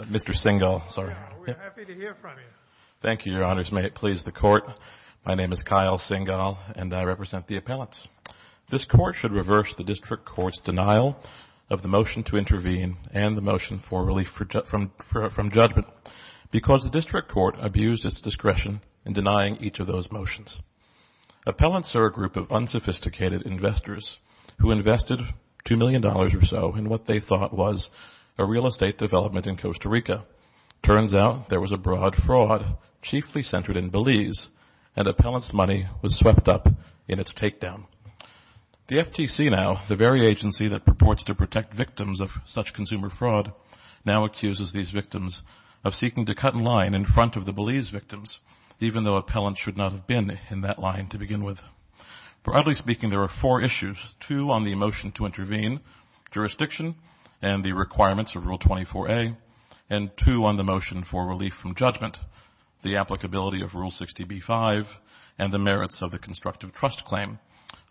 Mr. Sengall, may it please the Court, my name is Kyle Sengall and I represent the Appellants. This Court should reverse the District Court's denial of the motion to intervene and the motion for relief from judgment because the District Court abused its discretion in denying each of those motions. Appellants are a group of unsophisticated investors who invested $2 million or so in what they thought was a real estate development in Costa Rica. Turns out there was a broad fraud chiefly centered in Belize and Appellants' money was swept up in its takedown. The FTC now, the very agency that purports to protect victims of such consumer fraud, now accuses these victims of seeking to cut in line in front of the Belize victims even though Appellants should not have been in that line to begin with. Broadly speaking, there are four issues, two on the motion to intervene, jurisdiction and the requirements of Rule 24A, and two on the motion for relief from judgment, the applicability of Rule 60B-5, and the merits of the constructive trust claim.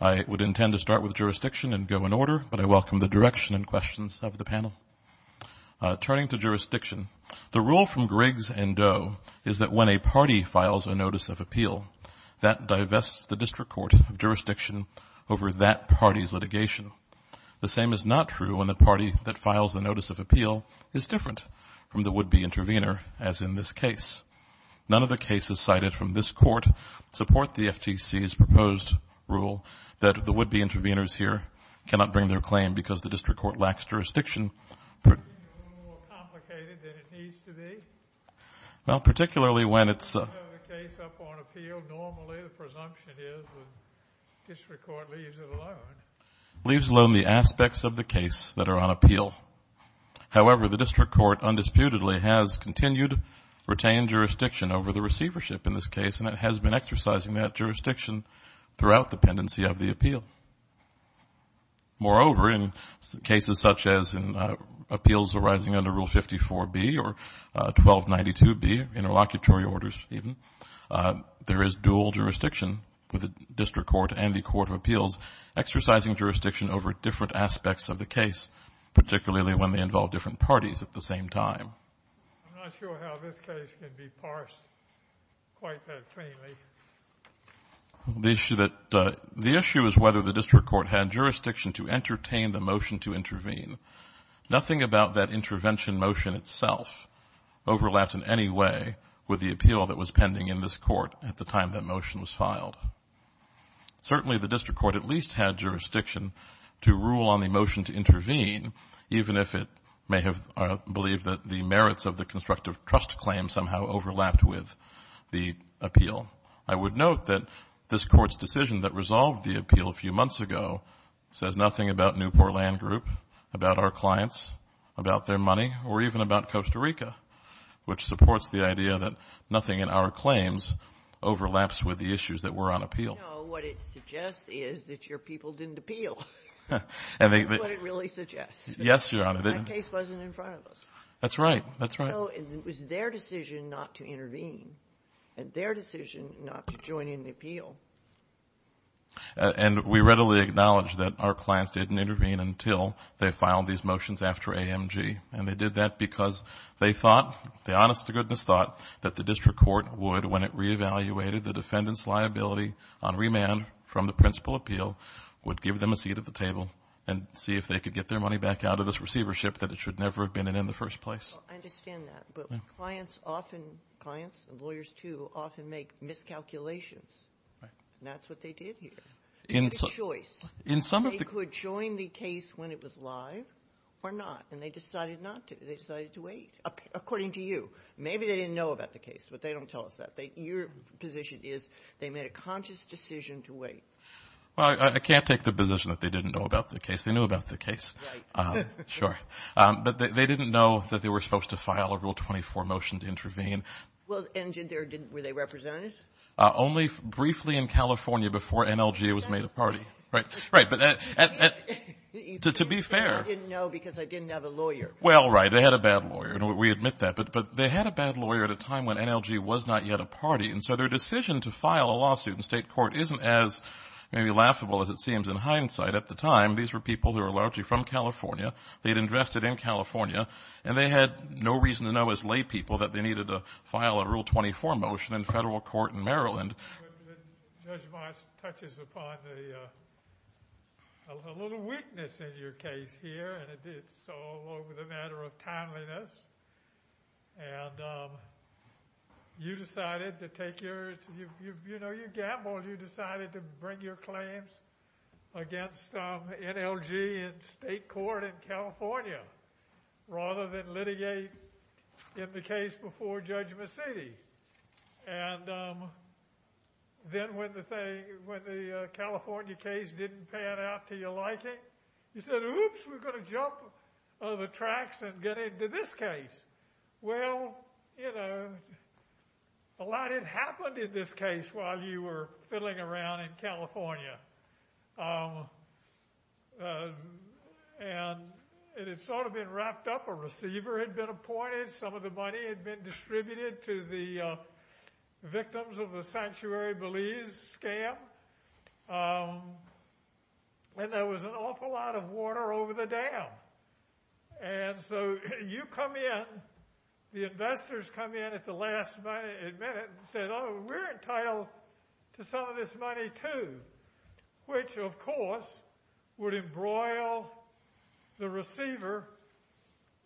I would intend to start with jurisdiction and go in order, but I welcome the direction and questions of the panel. Turning to jurisdiction, the rule from Griggs and Doe is that when a party files a notice of appeal, that divests the District Court of jurisdiction over that party's litigation. The same is not true when the party that files the notice of appeal is different from the would-be intervener, as in this case. None of the cases cited from this court support the FTC's proposed rule that the would-be interveners here cannot bring their claim because the District Court lacks jurisdiction. It's a little more complicated than it needs to be. Well, particularly when it's a case up on appeal. Normally, the presumption is the District Court leaves it alone. Leaves alone the aspects of the case that are on appeal. However, the District Court, undisputedly, has continued retained jurisdiction over the receivership in this case, and it has been exercising that jurisdiction throughout the pendency of the appeal. Moreover, in cases such as in appeals arising under Rule 54B or 1292B, interlocutory orders even, there is dual jurisdiction with the District Court and the Court of Appeals, exercising jurisdiction over different aspects of the case, particularly when they involve different parties at the same time. I'm not sure how this case can be parsed quite that cleanly. The issue is whether the District Court had jurisdiction to entertain the motion to intervene. Nothing about that intervention motion itself overlaps in any way with the appeal that was pending in this court at the time that motion was filed. Certainly, the District Court at least had jurisdiction to rule on the motion to intervene, even if it may have believed that the merits of the constructive trust claim somehow overlapped with the appeal. I would note that this court's decision that resolved the appeal a few months ago says nothing about Newport Land Group, about our clients, about their money, or even about Costa Rica, which supports the idea that nothing in our claims overlaps with the issues that were on appeal. What it suggests is that your people didn't appeal. That's what it really suggests. Yes, Your Honor. That case wasn't in front of us. That's right. That's right. No. It was their decision not to intervene and their decision not to join in the appeal. And we readily acknowledge that our clients didn't intervene until they filed these motions after AMG. And they did that because they thought, the honest-to-goodness thought, that the District Court would, when it reevaluated the defendant's liability on remand from the principal appeal, would give them a seat at the table and see if they could get their money back out of this receivership, that it should never have been in in the first place. Well, I understand that. But clients often — clients and lawyers, too, often make miscalculations. Right. And that's what they did here. In some — It was a choice. In some of the — They could join the case when it was live or not, and they decided not to. They decided to wait, according to you. Maybe they didn't know about the case, but they don't tell us that. Your position is they made a conscious decision to wait. Well, I can't take the position that they didn't know about the case. They knew about the case. Right. Sure. But they didn't know that they were supposed to file a Rule 24 motion to intervene. Well, and did their — were they represented? Only briefly in California before NLGA was made a party. Right. Right. But to be fair — You said, I didn't know because I didn't have a lawyer. Well, right. They had a bad lawyer. We admit that. But they had a bad lawyer at a time when NLG was not yet a party. And so their decision to file a lawsuit in state court isn't as maybe laughable as it seems in hindsight. At the time, these were people who were largely from California. They had invested in California. And they had no reason to know as laypeople that they needed to file a Rule 24 motion in federal court in Maryland. Judge Marsh touches upon a little weakness in your case here. And it's all over the matter of timeliness. And you decided to take your — you know, you gambled. You decided to bring your claims against NLG in state court in California rather than litigate in the case before Judge Macedi. And then when the California case didn't pan out to your liking, you said, Oops, we're going to jump on the tracks and get into this case. Well, you know, a lot had happened in this case while you were fiddling around in California. And it had sort of been wrapped up. A receiver had been appointed. Some of the money had been distributed to the victims of the Sanctuary Belize scam. And there was an awful lot of water over the dam. And so you come in, the investors come in at the last minute and said, Oh, we're entitled to some of this money too, which, of course, would embroil the receiver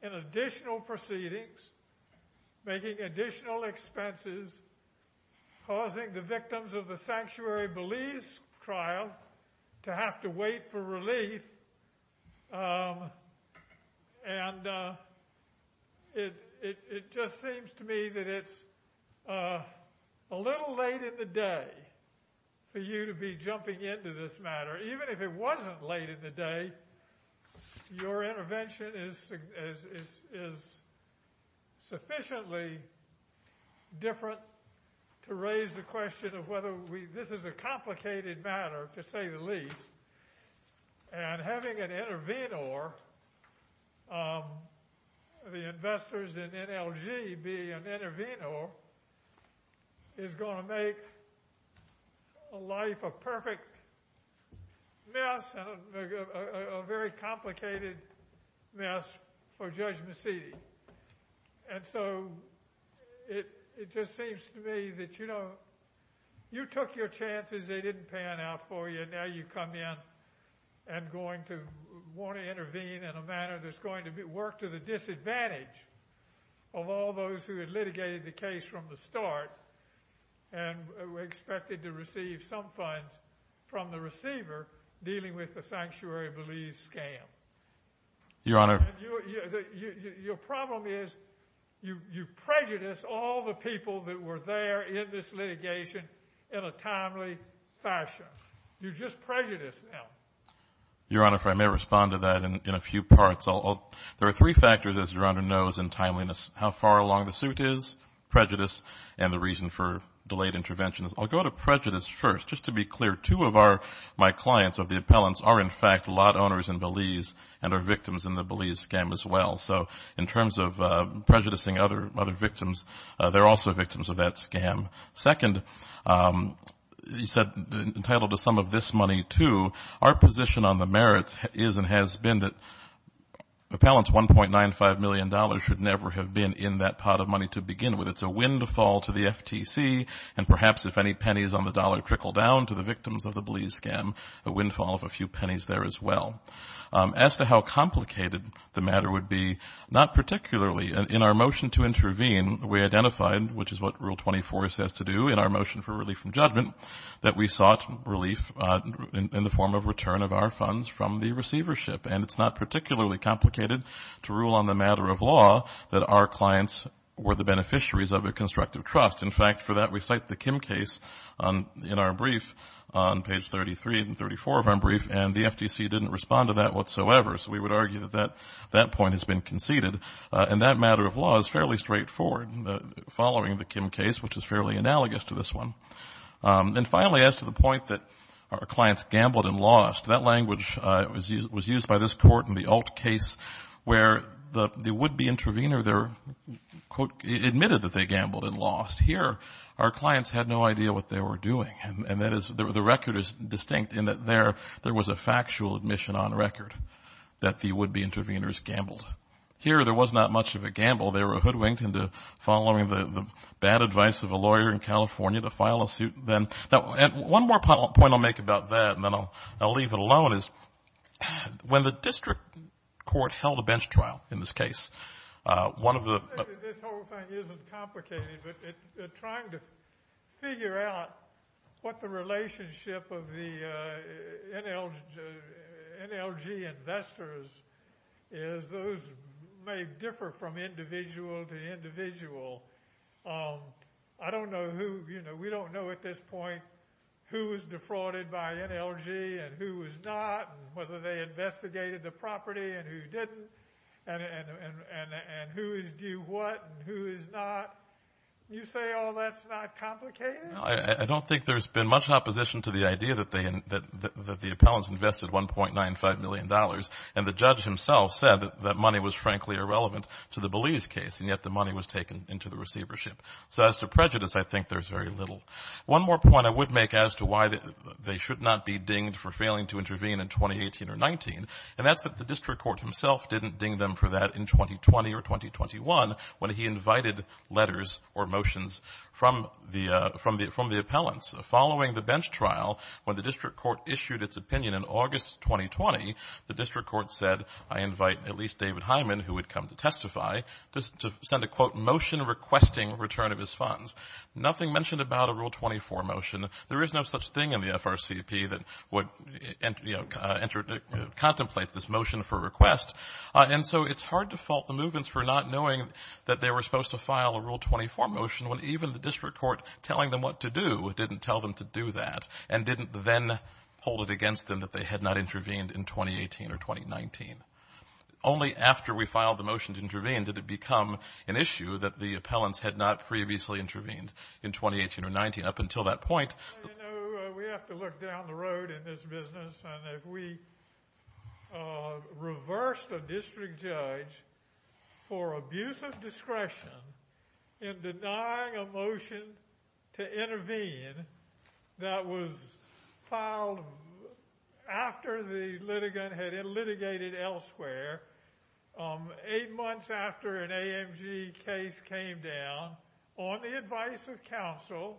in additional proceedings, making additional expenses, causing the victims of the Sanctuary Belize trial to have to wait for relief. And it just seems to me that it's a little late in the day for you to be jumping into this matter. Even if it wasn't late in the day, your intervention is sufficiently different to raise the question of whether this is a complicated matter, to say the least. And having an intervenor, the investors in NLG being an intervenor, is going to make a life of perfect mess and a very complicated mess for Judge Mecedi. And so it just seems to me that, you know, you took your chances, they didn't pan out for you, and now you come in and want to intervene in a manner that's going to work to the disadvantage of all those who had litigated the case from the start and were expected to receive some funds from the receiver dealing with the Sanctuary Belize scam. Your Honor. Your problem is you prejudiced all the people that were there in this litigation in a timely fashion. You just prejudiced them. Your Honor, if I may respond to that in a few parts. There are three factors, as Your Honor knows, in timeliness. How far along the suit is, prejudice, and the reason for delayed intervention. I'll go to prejudice first. Just to be clear, two of my clients of the appellants are in fact lot owners in Belize and are victims in the Belize scam as well. So in terms of prejudicing other victims, they're also victims of that scam. Second, you said entitled to some of this money too. Our position on the merits is and has been that appellants' $1.95 million should never have been in that pot of money to begin with. It's a windfall to the FTC, and perhaps if any pennies on the dollar trickle down to the victims of the Belize scam, a windfall of a few pennies there as well. As to how complicated the matter would be, not particularly. In our motion to intervene, we identified, which is what Rule 24 says to do in our motion for relief from judgment, that we sought relief in the form of return of our funds from the receivership. And it's not particularly complicated to rule on the matter of law that our clients were the beneficiaries of a constructive trust. In fact, for that we cite the Kim case in our brief on page 33 and 34 of our brief, and the FTC didn't respond to that whatsoever. So we would argue that that point has been conceded. And that matter of law is fairly straightforward following the Kim case, which is fairly analogous to this one. And finally, as to the point that our clients gambled and lost, that language was used by this court in the Alt case, where the would-be intervener there, quote, admitted that they gambled and lost. Here, our clients had no idea what they were doing. And that is the record is distinct in that there was a factual admission on record that the would-be interveners gambled. Here, there was not much of a gamble. They were hoodwinked into following the bad advice of a lawyer in California to file a suit. Now, one more point I'll make about that, and then I'll leave it alone, is when the district court held a bench trial in this case, This whole thing isn't complicated, but trying to figure out what the relationship of the NLG investors is, those may differ from individual to individual. I don't know who, you know, we don't know at this point who was defrauded by NLG and who was not, and whether they investigated the property and who didn't, and who is due what and who is not. You say, oh, that's not complicated? I don't think there's been much opposition to the idea that the appellants invested $1.95 million, and the judge himself said that that money was frankly irrelevant to the Belize case, and yet the money was taken into the receivership. So as to prejudice, I think there's very little. One more point I would make as to why they should not be dinged for failing to intervene in 2018 or 19, and that's that the district court himself didn't ding them for that in 2020 or 2021, when he invited letters or motions from the appellants. Following the bench trial, when the district court issued its opinion in August 2020, the district court said, I invite at least David Hyman, who would come to testify, to send a, quote, motion requesting return of his funds. Nothing mentioned about a Rule 24 motion. There is no such thing in the FRCP that contemplates this motion for request, and so it's hard to fault the movements for not knowing that they were supposed to file a Rule 24 motion when even the district court telling them what to do didn't tell them to do that and didn't then hold it against them that they had not intervened in 2018 or 2019. Only after we filed the motion to intervene did it become an issue that the appellants had not previously intervened in 2018 or 19. Up until that point. You know, we have to look down the road in this business, and if we reversed a district judge for abuse of discretion in denying a motion to intervene that was filed after the litigant had litigated elsewhere, eight months after an AMG case came down, on the advice of counsel,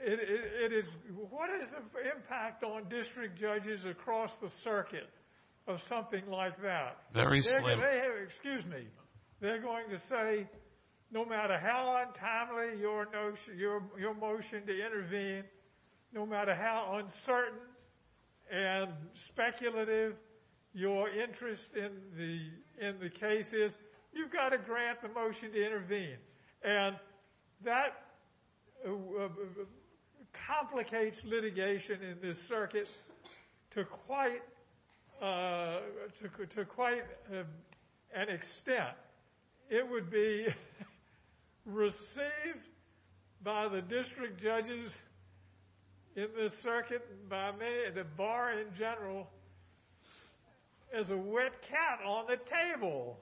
it is, what is the impact on district judges across the circuit of something like that? Very slim. Excuse me. They're going to say no matter how untimely your motion to intervene, no matter how uncertain and speculative your interest in the case is, you've got to grant the motion to intervene. And that complicates litigation in this circuit to quite an extent. It would be received by the district judges in this circuit, by the bar in general, as a wet cat on the table.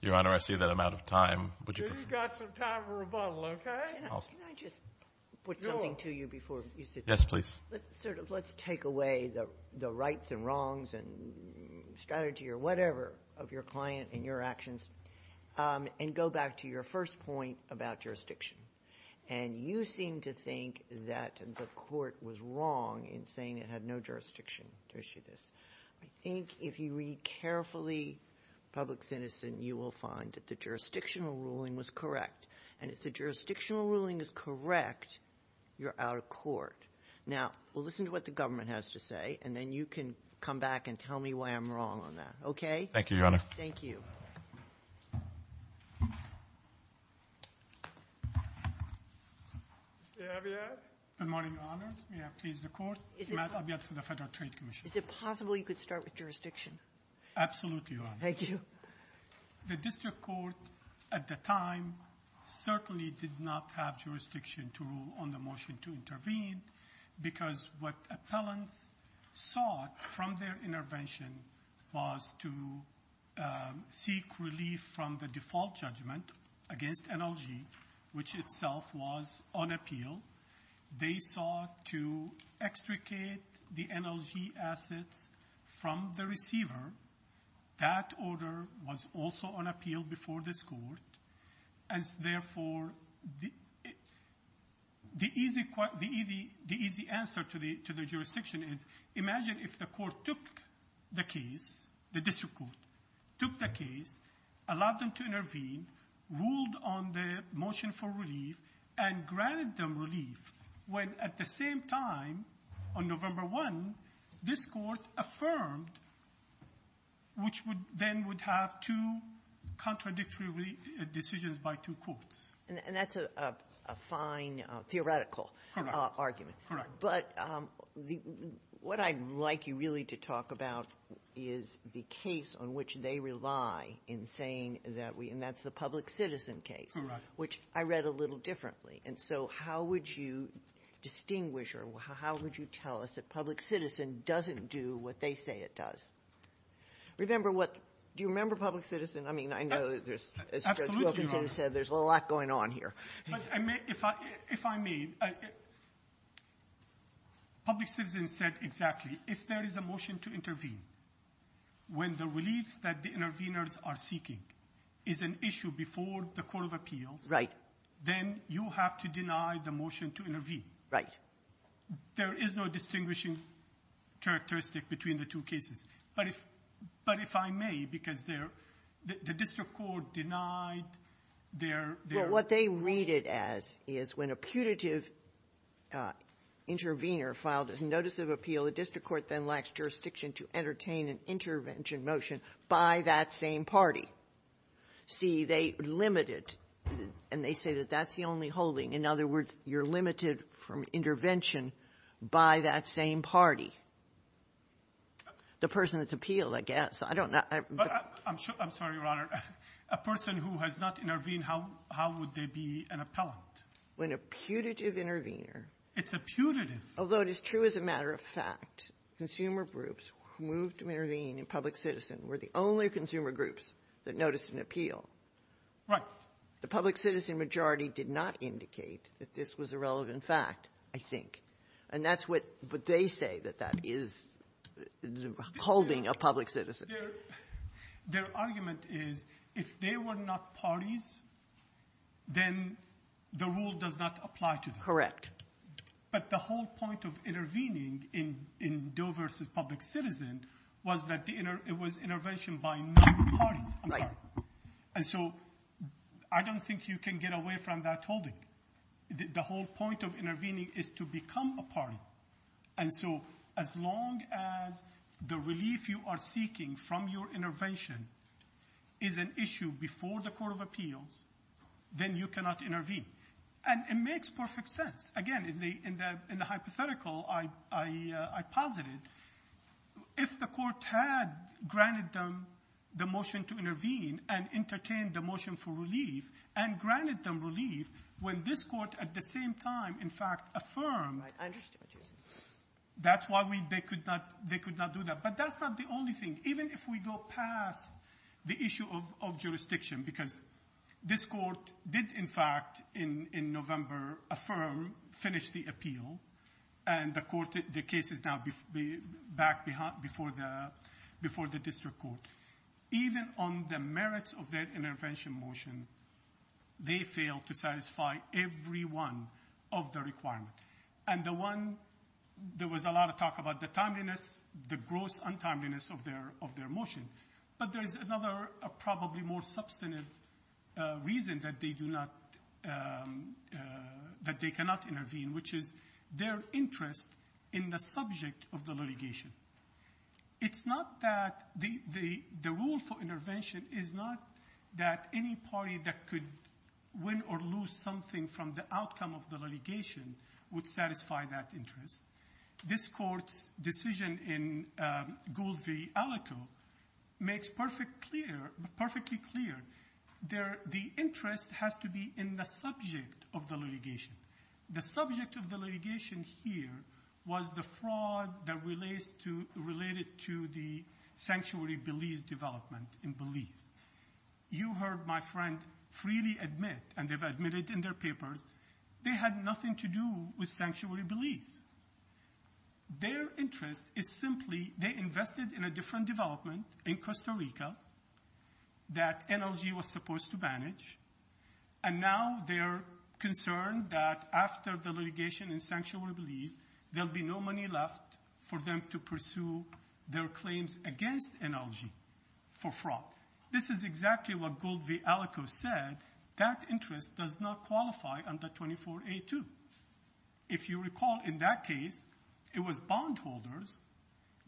Your Honor, I see that I'm out of time. You've got some time for rebuttal, okay? Can I just put something to you before you sit down? Yes, please. Let's take away the rights and wrongs and strategy or whatever of your client and your actions and go back to your first point about jurisdiction. And you seem to think that the court was wrong in saying it had no jurisdiction to issue this. I think if you read carefully Public Citizen, you will find that the jurisdictional ruling was correct. And if the jurisdictional ruling is correct, you're out of court. Now, we'll listen to what the government has to say, and then you can come back and tell me why I'm wrong on that, okay? Thank you, Your Honor. Thank you. Good morning, Your Honors. May I please the Court? Is it possible you could start with jurisdiction? Absolutely, Your Honor. Thank you. The district court at the time certainly did not have jurisdiction to rule on the motion to intervene because what appellants sought from their intervention was to seek relief from the default judgment against NLG, which itself was on appeal. They sought to extricate the NLG assets from the receiver. That order was also on appeal before this court, and therefore the easy answer to the jurisdiction is imagine if the court took the case, the district court took the case, allowed them to intervene, ruled on the motion for relief, and granted them relief when at the same time, on November 1, this court affirmed which then would have two contradictory decisions by two courts. And that's a fine theoretical argument. Correct. But what I'd like you really to talk about is the case on which they rely in saying that we – and that's the public citizen case. Correct. Which I read a little differently, and so how would you distinguish or how would you tell us that public citizen doesn't do what they say it does? Remember what – do you remember public citizen? I mean, I know there's, as Judge Wilkinson said, there's a lot going on here. If I may, public citizen said exactly, if there is a motion to intervene, when the relief that the interveners are seeking is an issue before the court of appeals. Then you have to deny the motion to intervene. Right. There is no distinguishing characteristic between the two cases. But if I may, because the district court denied their – Well, what they read it as is when a putative intervener filed a notice of appeal, the district court then lacks jurisdiction to entertain an intervention motion by that same party. See, they limit it, and they say that that's the only holding. In other words, you're limited from intervention by that same party. The person that's appealed, I guess. I don't know. I'm sorry, Your Honor. A person who has not intervened, how would they be an appellant? When a putative intervener – It's a putative. Although it is true as a matter of fact, consumer groups who moved to intervene in public citizen were the only consumer groups that noticed an appeal. Right. The public citizen majority did not indicate that this was a relevant fact, I think. And that's what they say, that that is the holding of public citizen. Their argument is if they were not parties, then the rule does not apply to them. Correct. But the whole point of intervening in Doe v. Public Citizen was that it was intervention by no parties. Right. I'm sorry. And so I don't think you can get away from that holding. The whole point of intervening is to become a party. And so as long as the relief you are seeking from your intervention is an issue before the court of appeals, then you cannot intervene. And it makes perfect sense. Again, in the hypothetical I posited, if the court had granted them the motion to intervene and entertained the motion for relief and granted them relief when this court at the same time, in fact, affirmed. I understand what you're saying. That's why they could not do that. But that's not the only thing. Even if we go past the issue of jurisdiction, because this court did, in fact, in November, affirm, finish the appeal. And the case is now back before the district court. Even on the merits of their intervention motion, they failed to satisfy every one of the requirements. And the one, there was a lot of talk about the timeliness, the gross untimeliness of their motion. But there is another probably more substantive reason that they cannot intervene, which is their interest in the subject of the litigation. It's not that the rule for intervention is not that any party that could win or lose something from the outcome of the litigation would satisfy that interest. This court's decision in Gould v. Alito makes perfectly clear the interest has to be in the subject of the litigation. The subject of the litigation here was the fraud that related to the sanctuary Belize development in Belize. You heard my friend freely admit, and they've admitted in their papers, they had nothing to do with sanctuary Belize. Their interest is simply they invested in a different development in Costa Rica that NLG was supposed to manage. And now they're concerned that after the litigation in sanctuary Belize, there'll be no money left for them to pursue their claims against NLG for fraud. This is exactly what Gould v. Alito said. That interest does not qualify under 24A2. If you recall, in that case, it was bondholders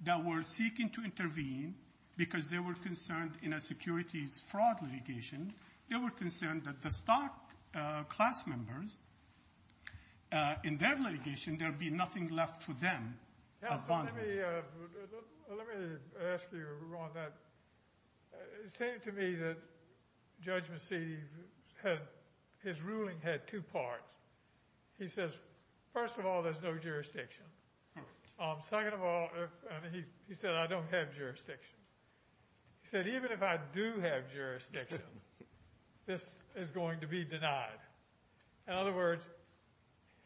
that were seeking to intervene because they were concerned in a securities fraud litigation. They were concerned that the stock class members, in their litigation, there'd be nothing left for them. Let me ask you, Ron, that it seemed to me that Judge Massidi, his ruling had two parts. He says, first of all, there's no jurisdiction. Second of all, he said, I don't have jurisdiction. He said, even if I do have jurisdiction, this is going to be denied. In other words,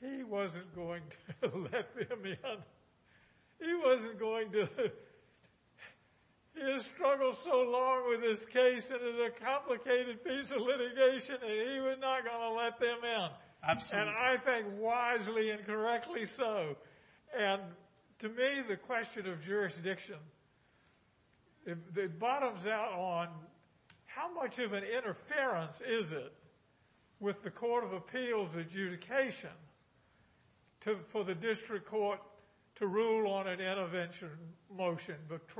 he wasn't going to let them in. He wasn't going to. He has struggled so long with this case, and it's a complicated piece of litigation, and he was not going to let them in. And I think wisely and correctly so. And to me, the question of jurisdiction, it bottoms out on how much of an interference is it with the court of appeals adjudication for the district court to rule on an intervention motion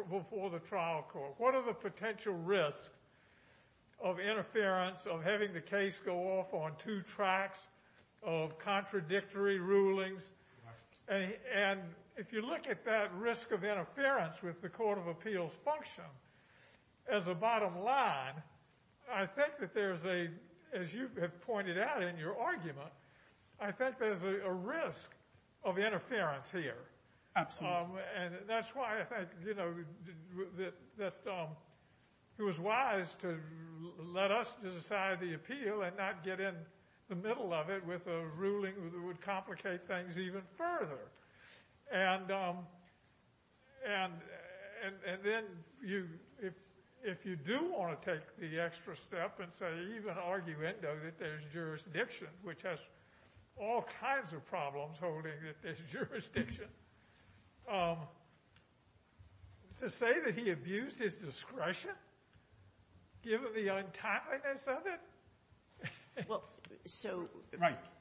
before the trial court? What are the potential risks of interference, of having the case go off on two tracks of contradictory rulings? And if you look at that risk of interference with the court of appeals function as a bottom line, I think that there's a, as you have pointed out in your argument, I think there's a risk of interference here. And that's why I think that it was wise to let us decide the appeal and not get in the middle of it with a ruling that would complicate things even further. And then if you do want to take the extra step and say, even arguendo that there's jurisdiction, which has all kinds of problems holding that there's jurisdiction, to say that he abused his discretion, given the untimeliness of it? Well, so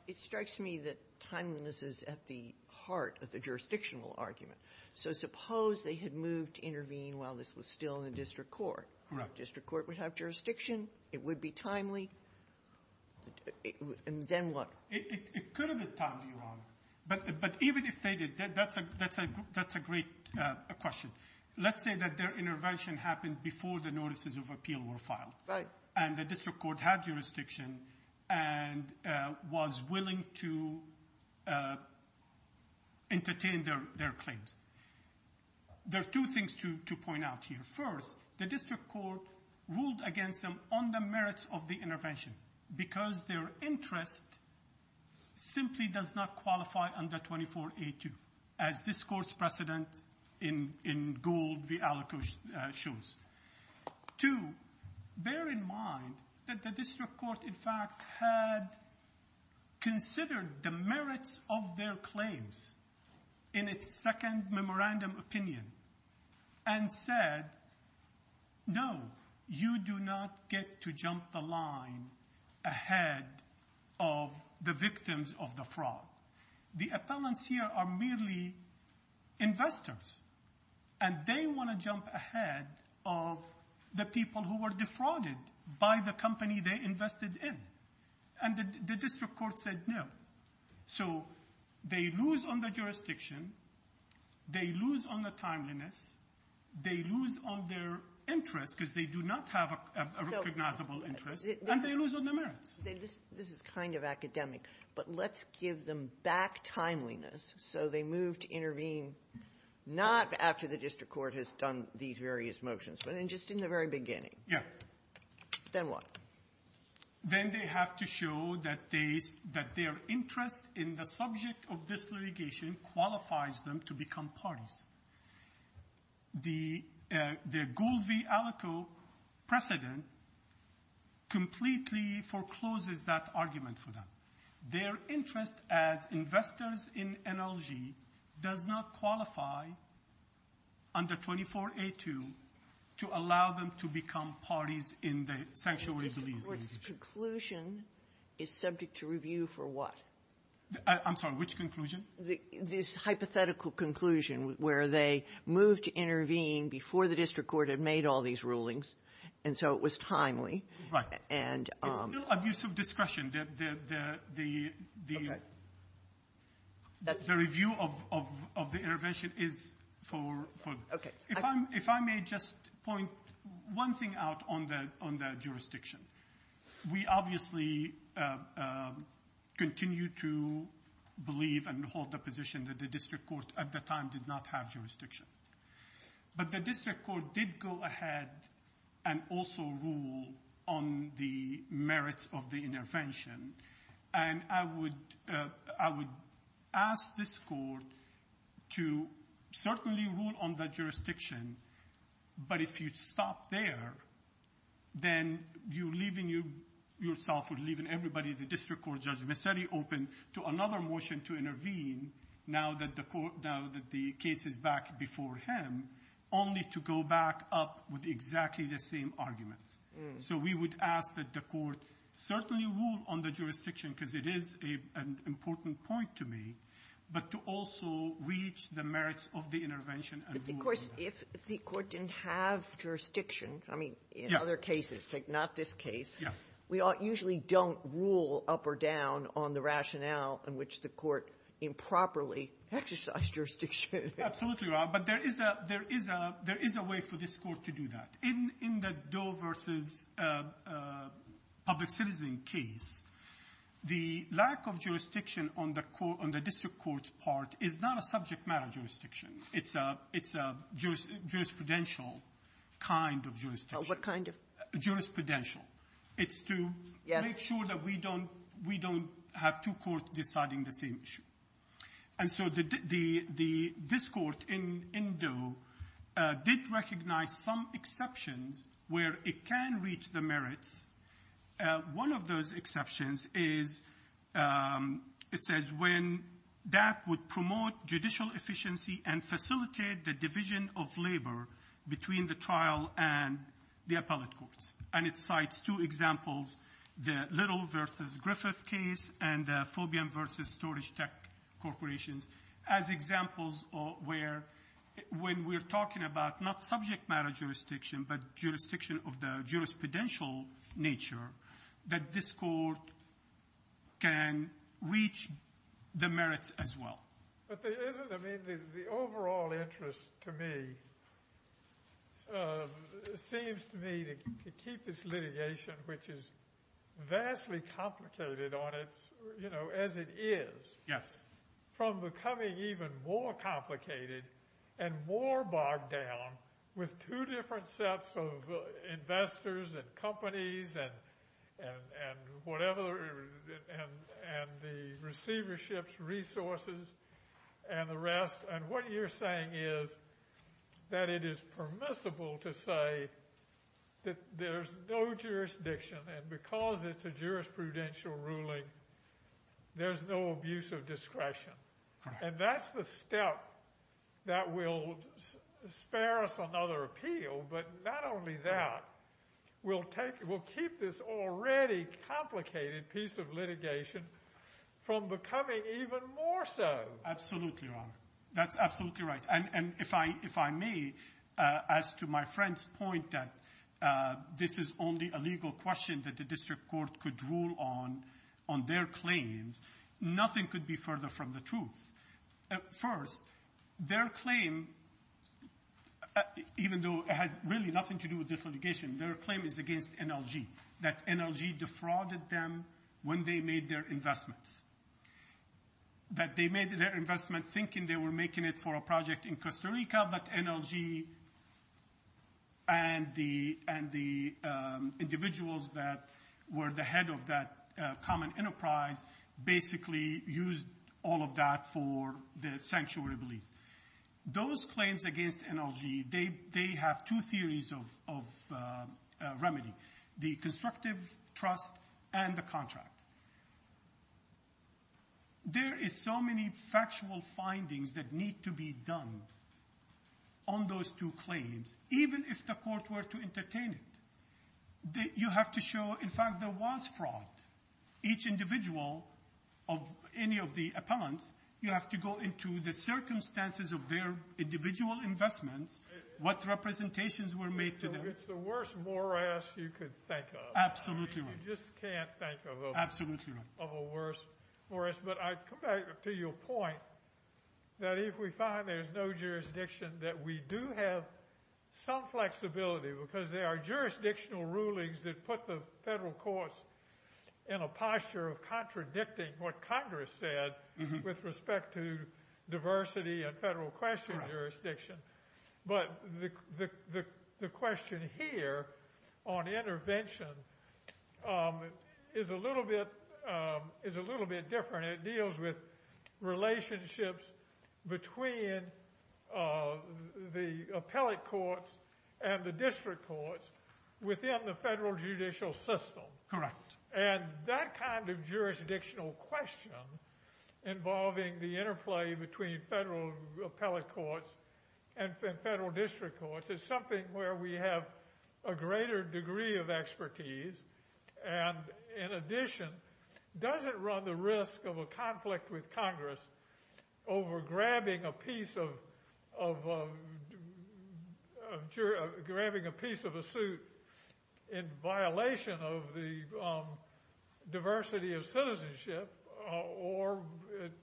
it strikes me that timeliness is at the heart of the jurisdictional argument. So suppose they had moved to intervene while this was still in the district court. The district court would have jurisdiction, it would be timely, and then what? It could have been timely, Your Honor. But even if they did, that's a great question. Let's say that their intervention happened before the notices of appeal were filed. Right. And the district court had jurisdiction and was willing to entertain their claims. There are two things to point out here. First, the district court ruled against them on the merits of the intervention because their interest simply does not qualify under 24A2, as this court's precedent in Gould v. Alaco shows. Two, bear in mind that the district court, in fact, had considered the merits of their claims in its second memorandum opinion and said, no, you do not get to jump the line ahead of the victims of the fraud. The appellants here are merely investors, and they want to jump ahead of the people who were defrauded by the company they invested in. And the district court said no. So they lose on the jurisdiction, they lose on the timeliness, they lose on their interest because they do not have a recognizable interest, and they lose on the merits. This is kind of academic, but let's give them back timeliness. So they move to intervene not after the district court has done these various motions, but just in the very beginning. Yeah. Then what? Then they have to show that their interest in the subject of this litigation qualifies them to become parties. The Gould v. Alaco precedent completely forecloses that argument for them. Their interest as investors in NLG does not qualify under 24A2 to allow them to become parties in the sanctuary's litigation. The district court's conclusion is subject to review for what? I'm sorry, which conclusion? This hypothetical conclusion where they moved to intervene before the district court had made all these rulings, and so it was timely. It's still abuse of discretion. The review of the intervention is for ‑‑ Okay. If I may just point one thing out on the jurisdiction. We obviously continue to believe and hold the position that the district court at the time did not have jurisdiction, but the district court did go ahead and also rule on the merits of the intervention, and I would ask this court to certainly rule on the jurisdiction, but if you stop there, then you're leaving yourself, you're leaving everybody, the district court, Judge Messeri, open to another motion to intervene now that the case is back before him, only to go back up with exactly the same arguments. So we would ask that the court certainly rule on the jurisdiction, because it is an important point to me, but to also reach the merits of the intervention and rule on that. Of course, if the court didn't have jurisdiction, I mean, in other cases, like not this case, we usually don't rule up or down on the rationale on which the court improperly exercised jurisdiction. Absolutely, Your Honor, but there is a way for this court to do that. In the Doe v. Public Citizen case, the lack of jurisdiction on the district court's part is not a subject matter jurisdiction. It's a jurisprudential kind of jurisdiction. Oh, what kind of? Jurisprudential. It's to make sure that we don't have two courts deciding the same issue. And so this court in Doe did recognize some exceptions where it can reach the merits. One of those exceptions is, it says, when that would promote judicial efficiency and facilitate the division of labor between the trial and the appellate courts. And it cites two examples, the Little v. Griffith case and the Fobian v. Storage Tech corporations, as examples where when we're talking about not subject matter jurisdiction, but jurisdiction of the jurisprudential nature, that this court can reach the merits as well. But the overall interest to me seems to me to keep this litigation, which is vastly complicated as it is, from becoming even more complicated and more bogged down with two different sets of investors and companies and the receiverships, resources, and the rest. And what you're saying is that it is permissible to say that there's no jurisdiction. And because it's a jurisprudential ruling, there's no abuse of discretion. And that's the step that will spare us another appeal. But not only that, we'll keep this already complicated piece of litigation from becoming even more so. Absolutely, Your Honor. That's absolutely right. And if I may, as to my friend's point that this is only a legal question that the district court could rule on, on their claims, nothing could be further from the truth. First, their claim, even though it has really nothing to do with this litigation, their claim is against NLG, that NLG defrauded them when they made their investments, that they made their investment thinking they were making it for a project in Costa Rica, but NLG and the individuals that were the head of that common enterprise basically used all of that for their sanctuary beliefs. Those claims against NLG, they have two theories of remedy, the constructive trust and the contract. There is so many factual findings that need to be done on those two claims, even if the court were to entertain it. You have to show, in fact, there was fraud. Each individual of any of the appellants, you have to go into the circumstances of their individual investments, what representations were made to them. It's the worst morass you could think of. Absolutely right. You just can't think of a worse morass. But I come back to your point that if we find there's no jurisdiction, that we do have some flexibility because there are jurisdictional rulings that put the federal courts in a posture of contradicting what Congress said with respect to diversity and federal question jurisdiction. But the question here on intervention is a little bit different. It deals with relationships between the appellate courts and the district courts within the federal judicial system. Correct. That kind of jurisdictional question involving the interplay between federal appellate courts and federal district courts is something where we have a greater degree of expertise and, in addition, doesn't run the risk of a conflict with Congress over grabbing a piece of a suit in violation of the diversity of citizenship or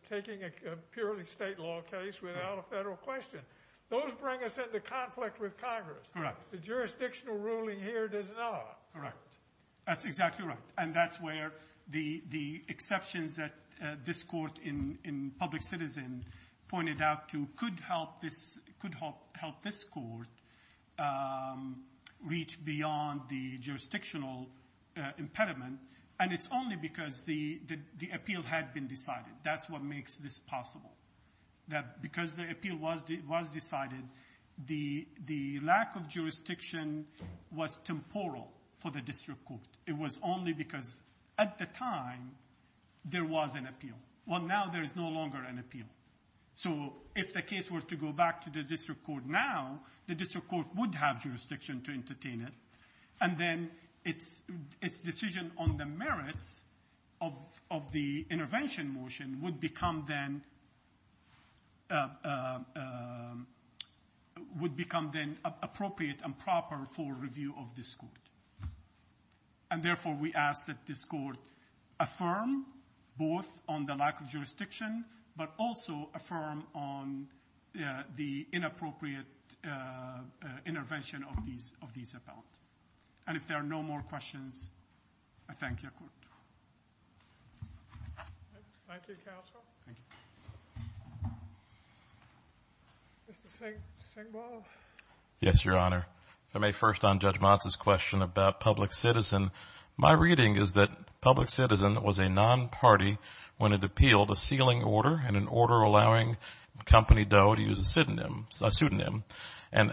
taking a purely state law case without a federal question. Those bring us into conflict with Congress. Correct. The jurisdictional ruling here does not. Correct. That's exactly right. And that's where the exceptions that this court in public citizen pointed out to could help this court reach beyond the jurisdictional impediment. And it's only because the appeal had been decided. That's what makes this possible. Because the appeal was decided, the lack of jurisdiction was temporal for the district court. It was only because, at the time, there was an appeal. Well, now there is no longer an appeal. So if the case were to go back to the district court now, the district court would have jurisdiction to entertain it. And then its decision on the merits of the intervention motion would become then appropriate and proper for review of this court. And therefore, we ask that this court affirm both on the lack of jurisdiction, but also affirm on the inappropriate intervention of these appeals. And if there are no more questions, I thank your court. Thank you, counsel. Thank you. Mr. Singbo. Yes, Your Honor. If I may, first on Judge Motz's question about public citizen, my reading is that public citizen was a non-party when it appealed a sealing order and an order allowing Company Doe to use a pseudonym. And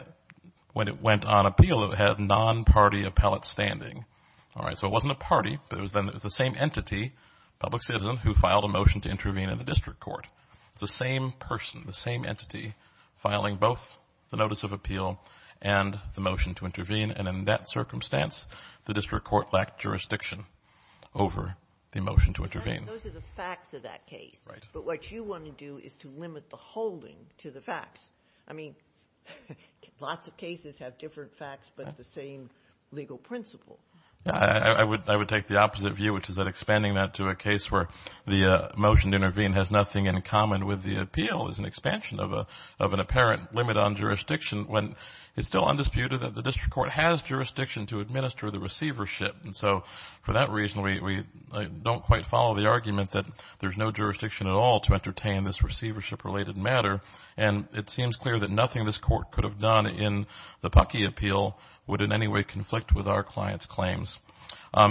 when it went on appeal, it had non-party appellate standing. All right, so it wasn't a party, but it was the same entity, public citizen, who filed a motion to intervene in the district court. It's the same person, the same entity filing both the notice of appeal and the motion to intervene. And in that circumstance, the district court lacked jurisdiction over the motion to intervene. Those are the facts of that case. Right. But what you want to do is to limit the holding to the facts. I mean, lots of cases have different facts but the same legal principle. I would take the opposite view, which is that expanding that to a case where the motion to intervene has nothing in common with the appeal is an expansion of an apparent limit on jurisdiction when it's still undisputed that the district court has jurisdiction to administer the receivership. And so for that reason, we don't quite follow the argument that there's no jurisdiction at all to entertain this receivership-related matter. And it seems clear that nothing this court could have done in the Pucky appeal would in any way conflict with our client's claims.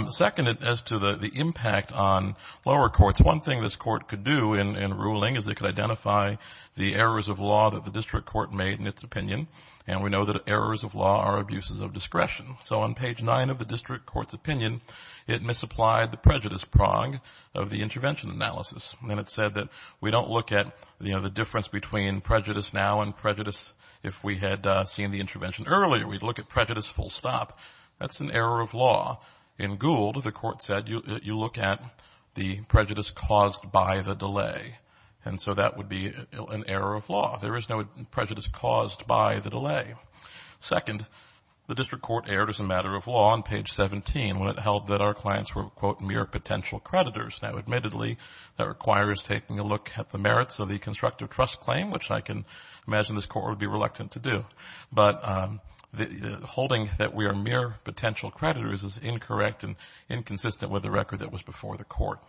Second, as to the impact on lower courts, one thing this court could do in ruling is it could identify the errors of law that the district court made in its opinion. And we know that errors of law are abuses of discretion. So on page 9 of the district court's opinion, it misapplied the prejudice prong of the intervention analysis. And it said that we don't look at, you know, the difference between prejudice now and prejudice if we had seen the intervention earlier. We'd look at prejudice full stop. That's an error of law. In Gould, the court said you look at the prejudice caused by the delay. And so that would be an error of law. There is no prejudice caused by the delay. Second, the district court erred as a matter of law on page 17 when it held that our clients were, quote, mere potential creditors. Now, admittedly, that requires taking a look at the merits of the constructive trust claim, which I can imagine this court would be reluctant to do. But holding that we are mere potential creditors is incorrect and inconsistent with the record that was before the court.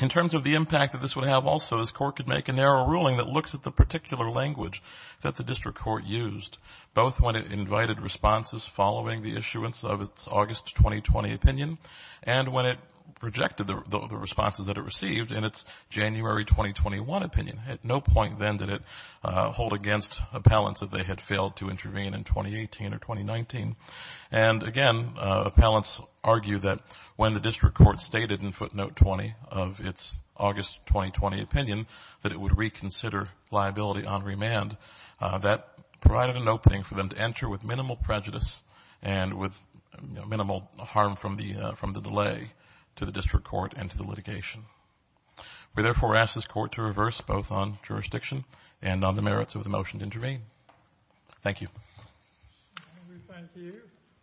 In terms of the impact that this would have also, this court could make a narrow ruling that looks at the particular language that the district court used, both when it invited responses following the issuance of its August 2020 opinion and when it rejected the responses that it received in its January 2021 opinion. At no point then did it hold against appellants that they had failed to intervene in 2018 or 2019. And, again, appellants argue that when the district court stated in footnote 20 of its August 2020 opinion that it would reconsider liability on remand, that provided an opening for them to enter with minimal prejudice and with minimal harm from the delay to the district court and to the litigation. We therefore ask this court to reverse both on jurisdiction and on the merits of the motion to intervene. Thank you.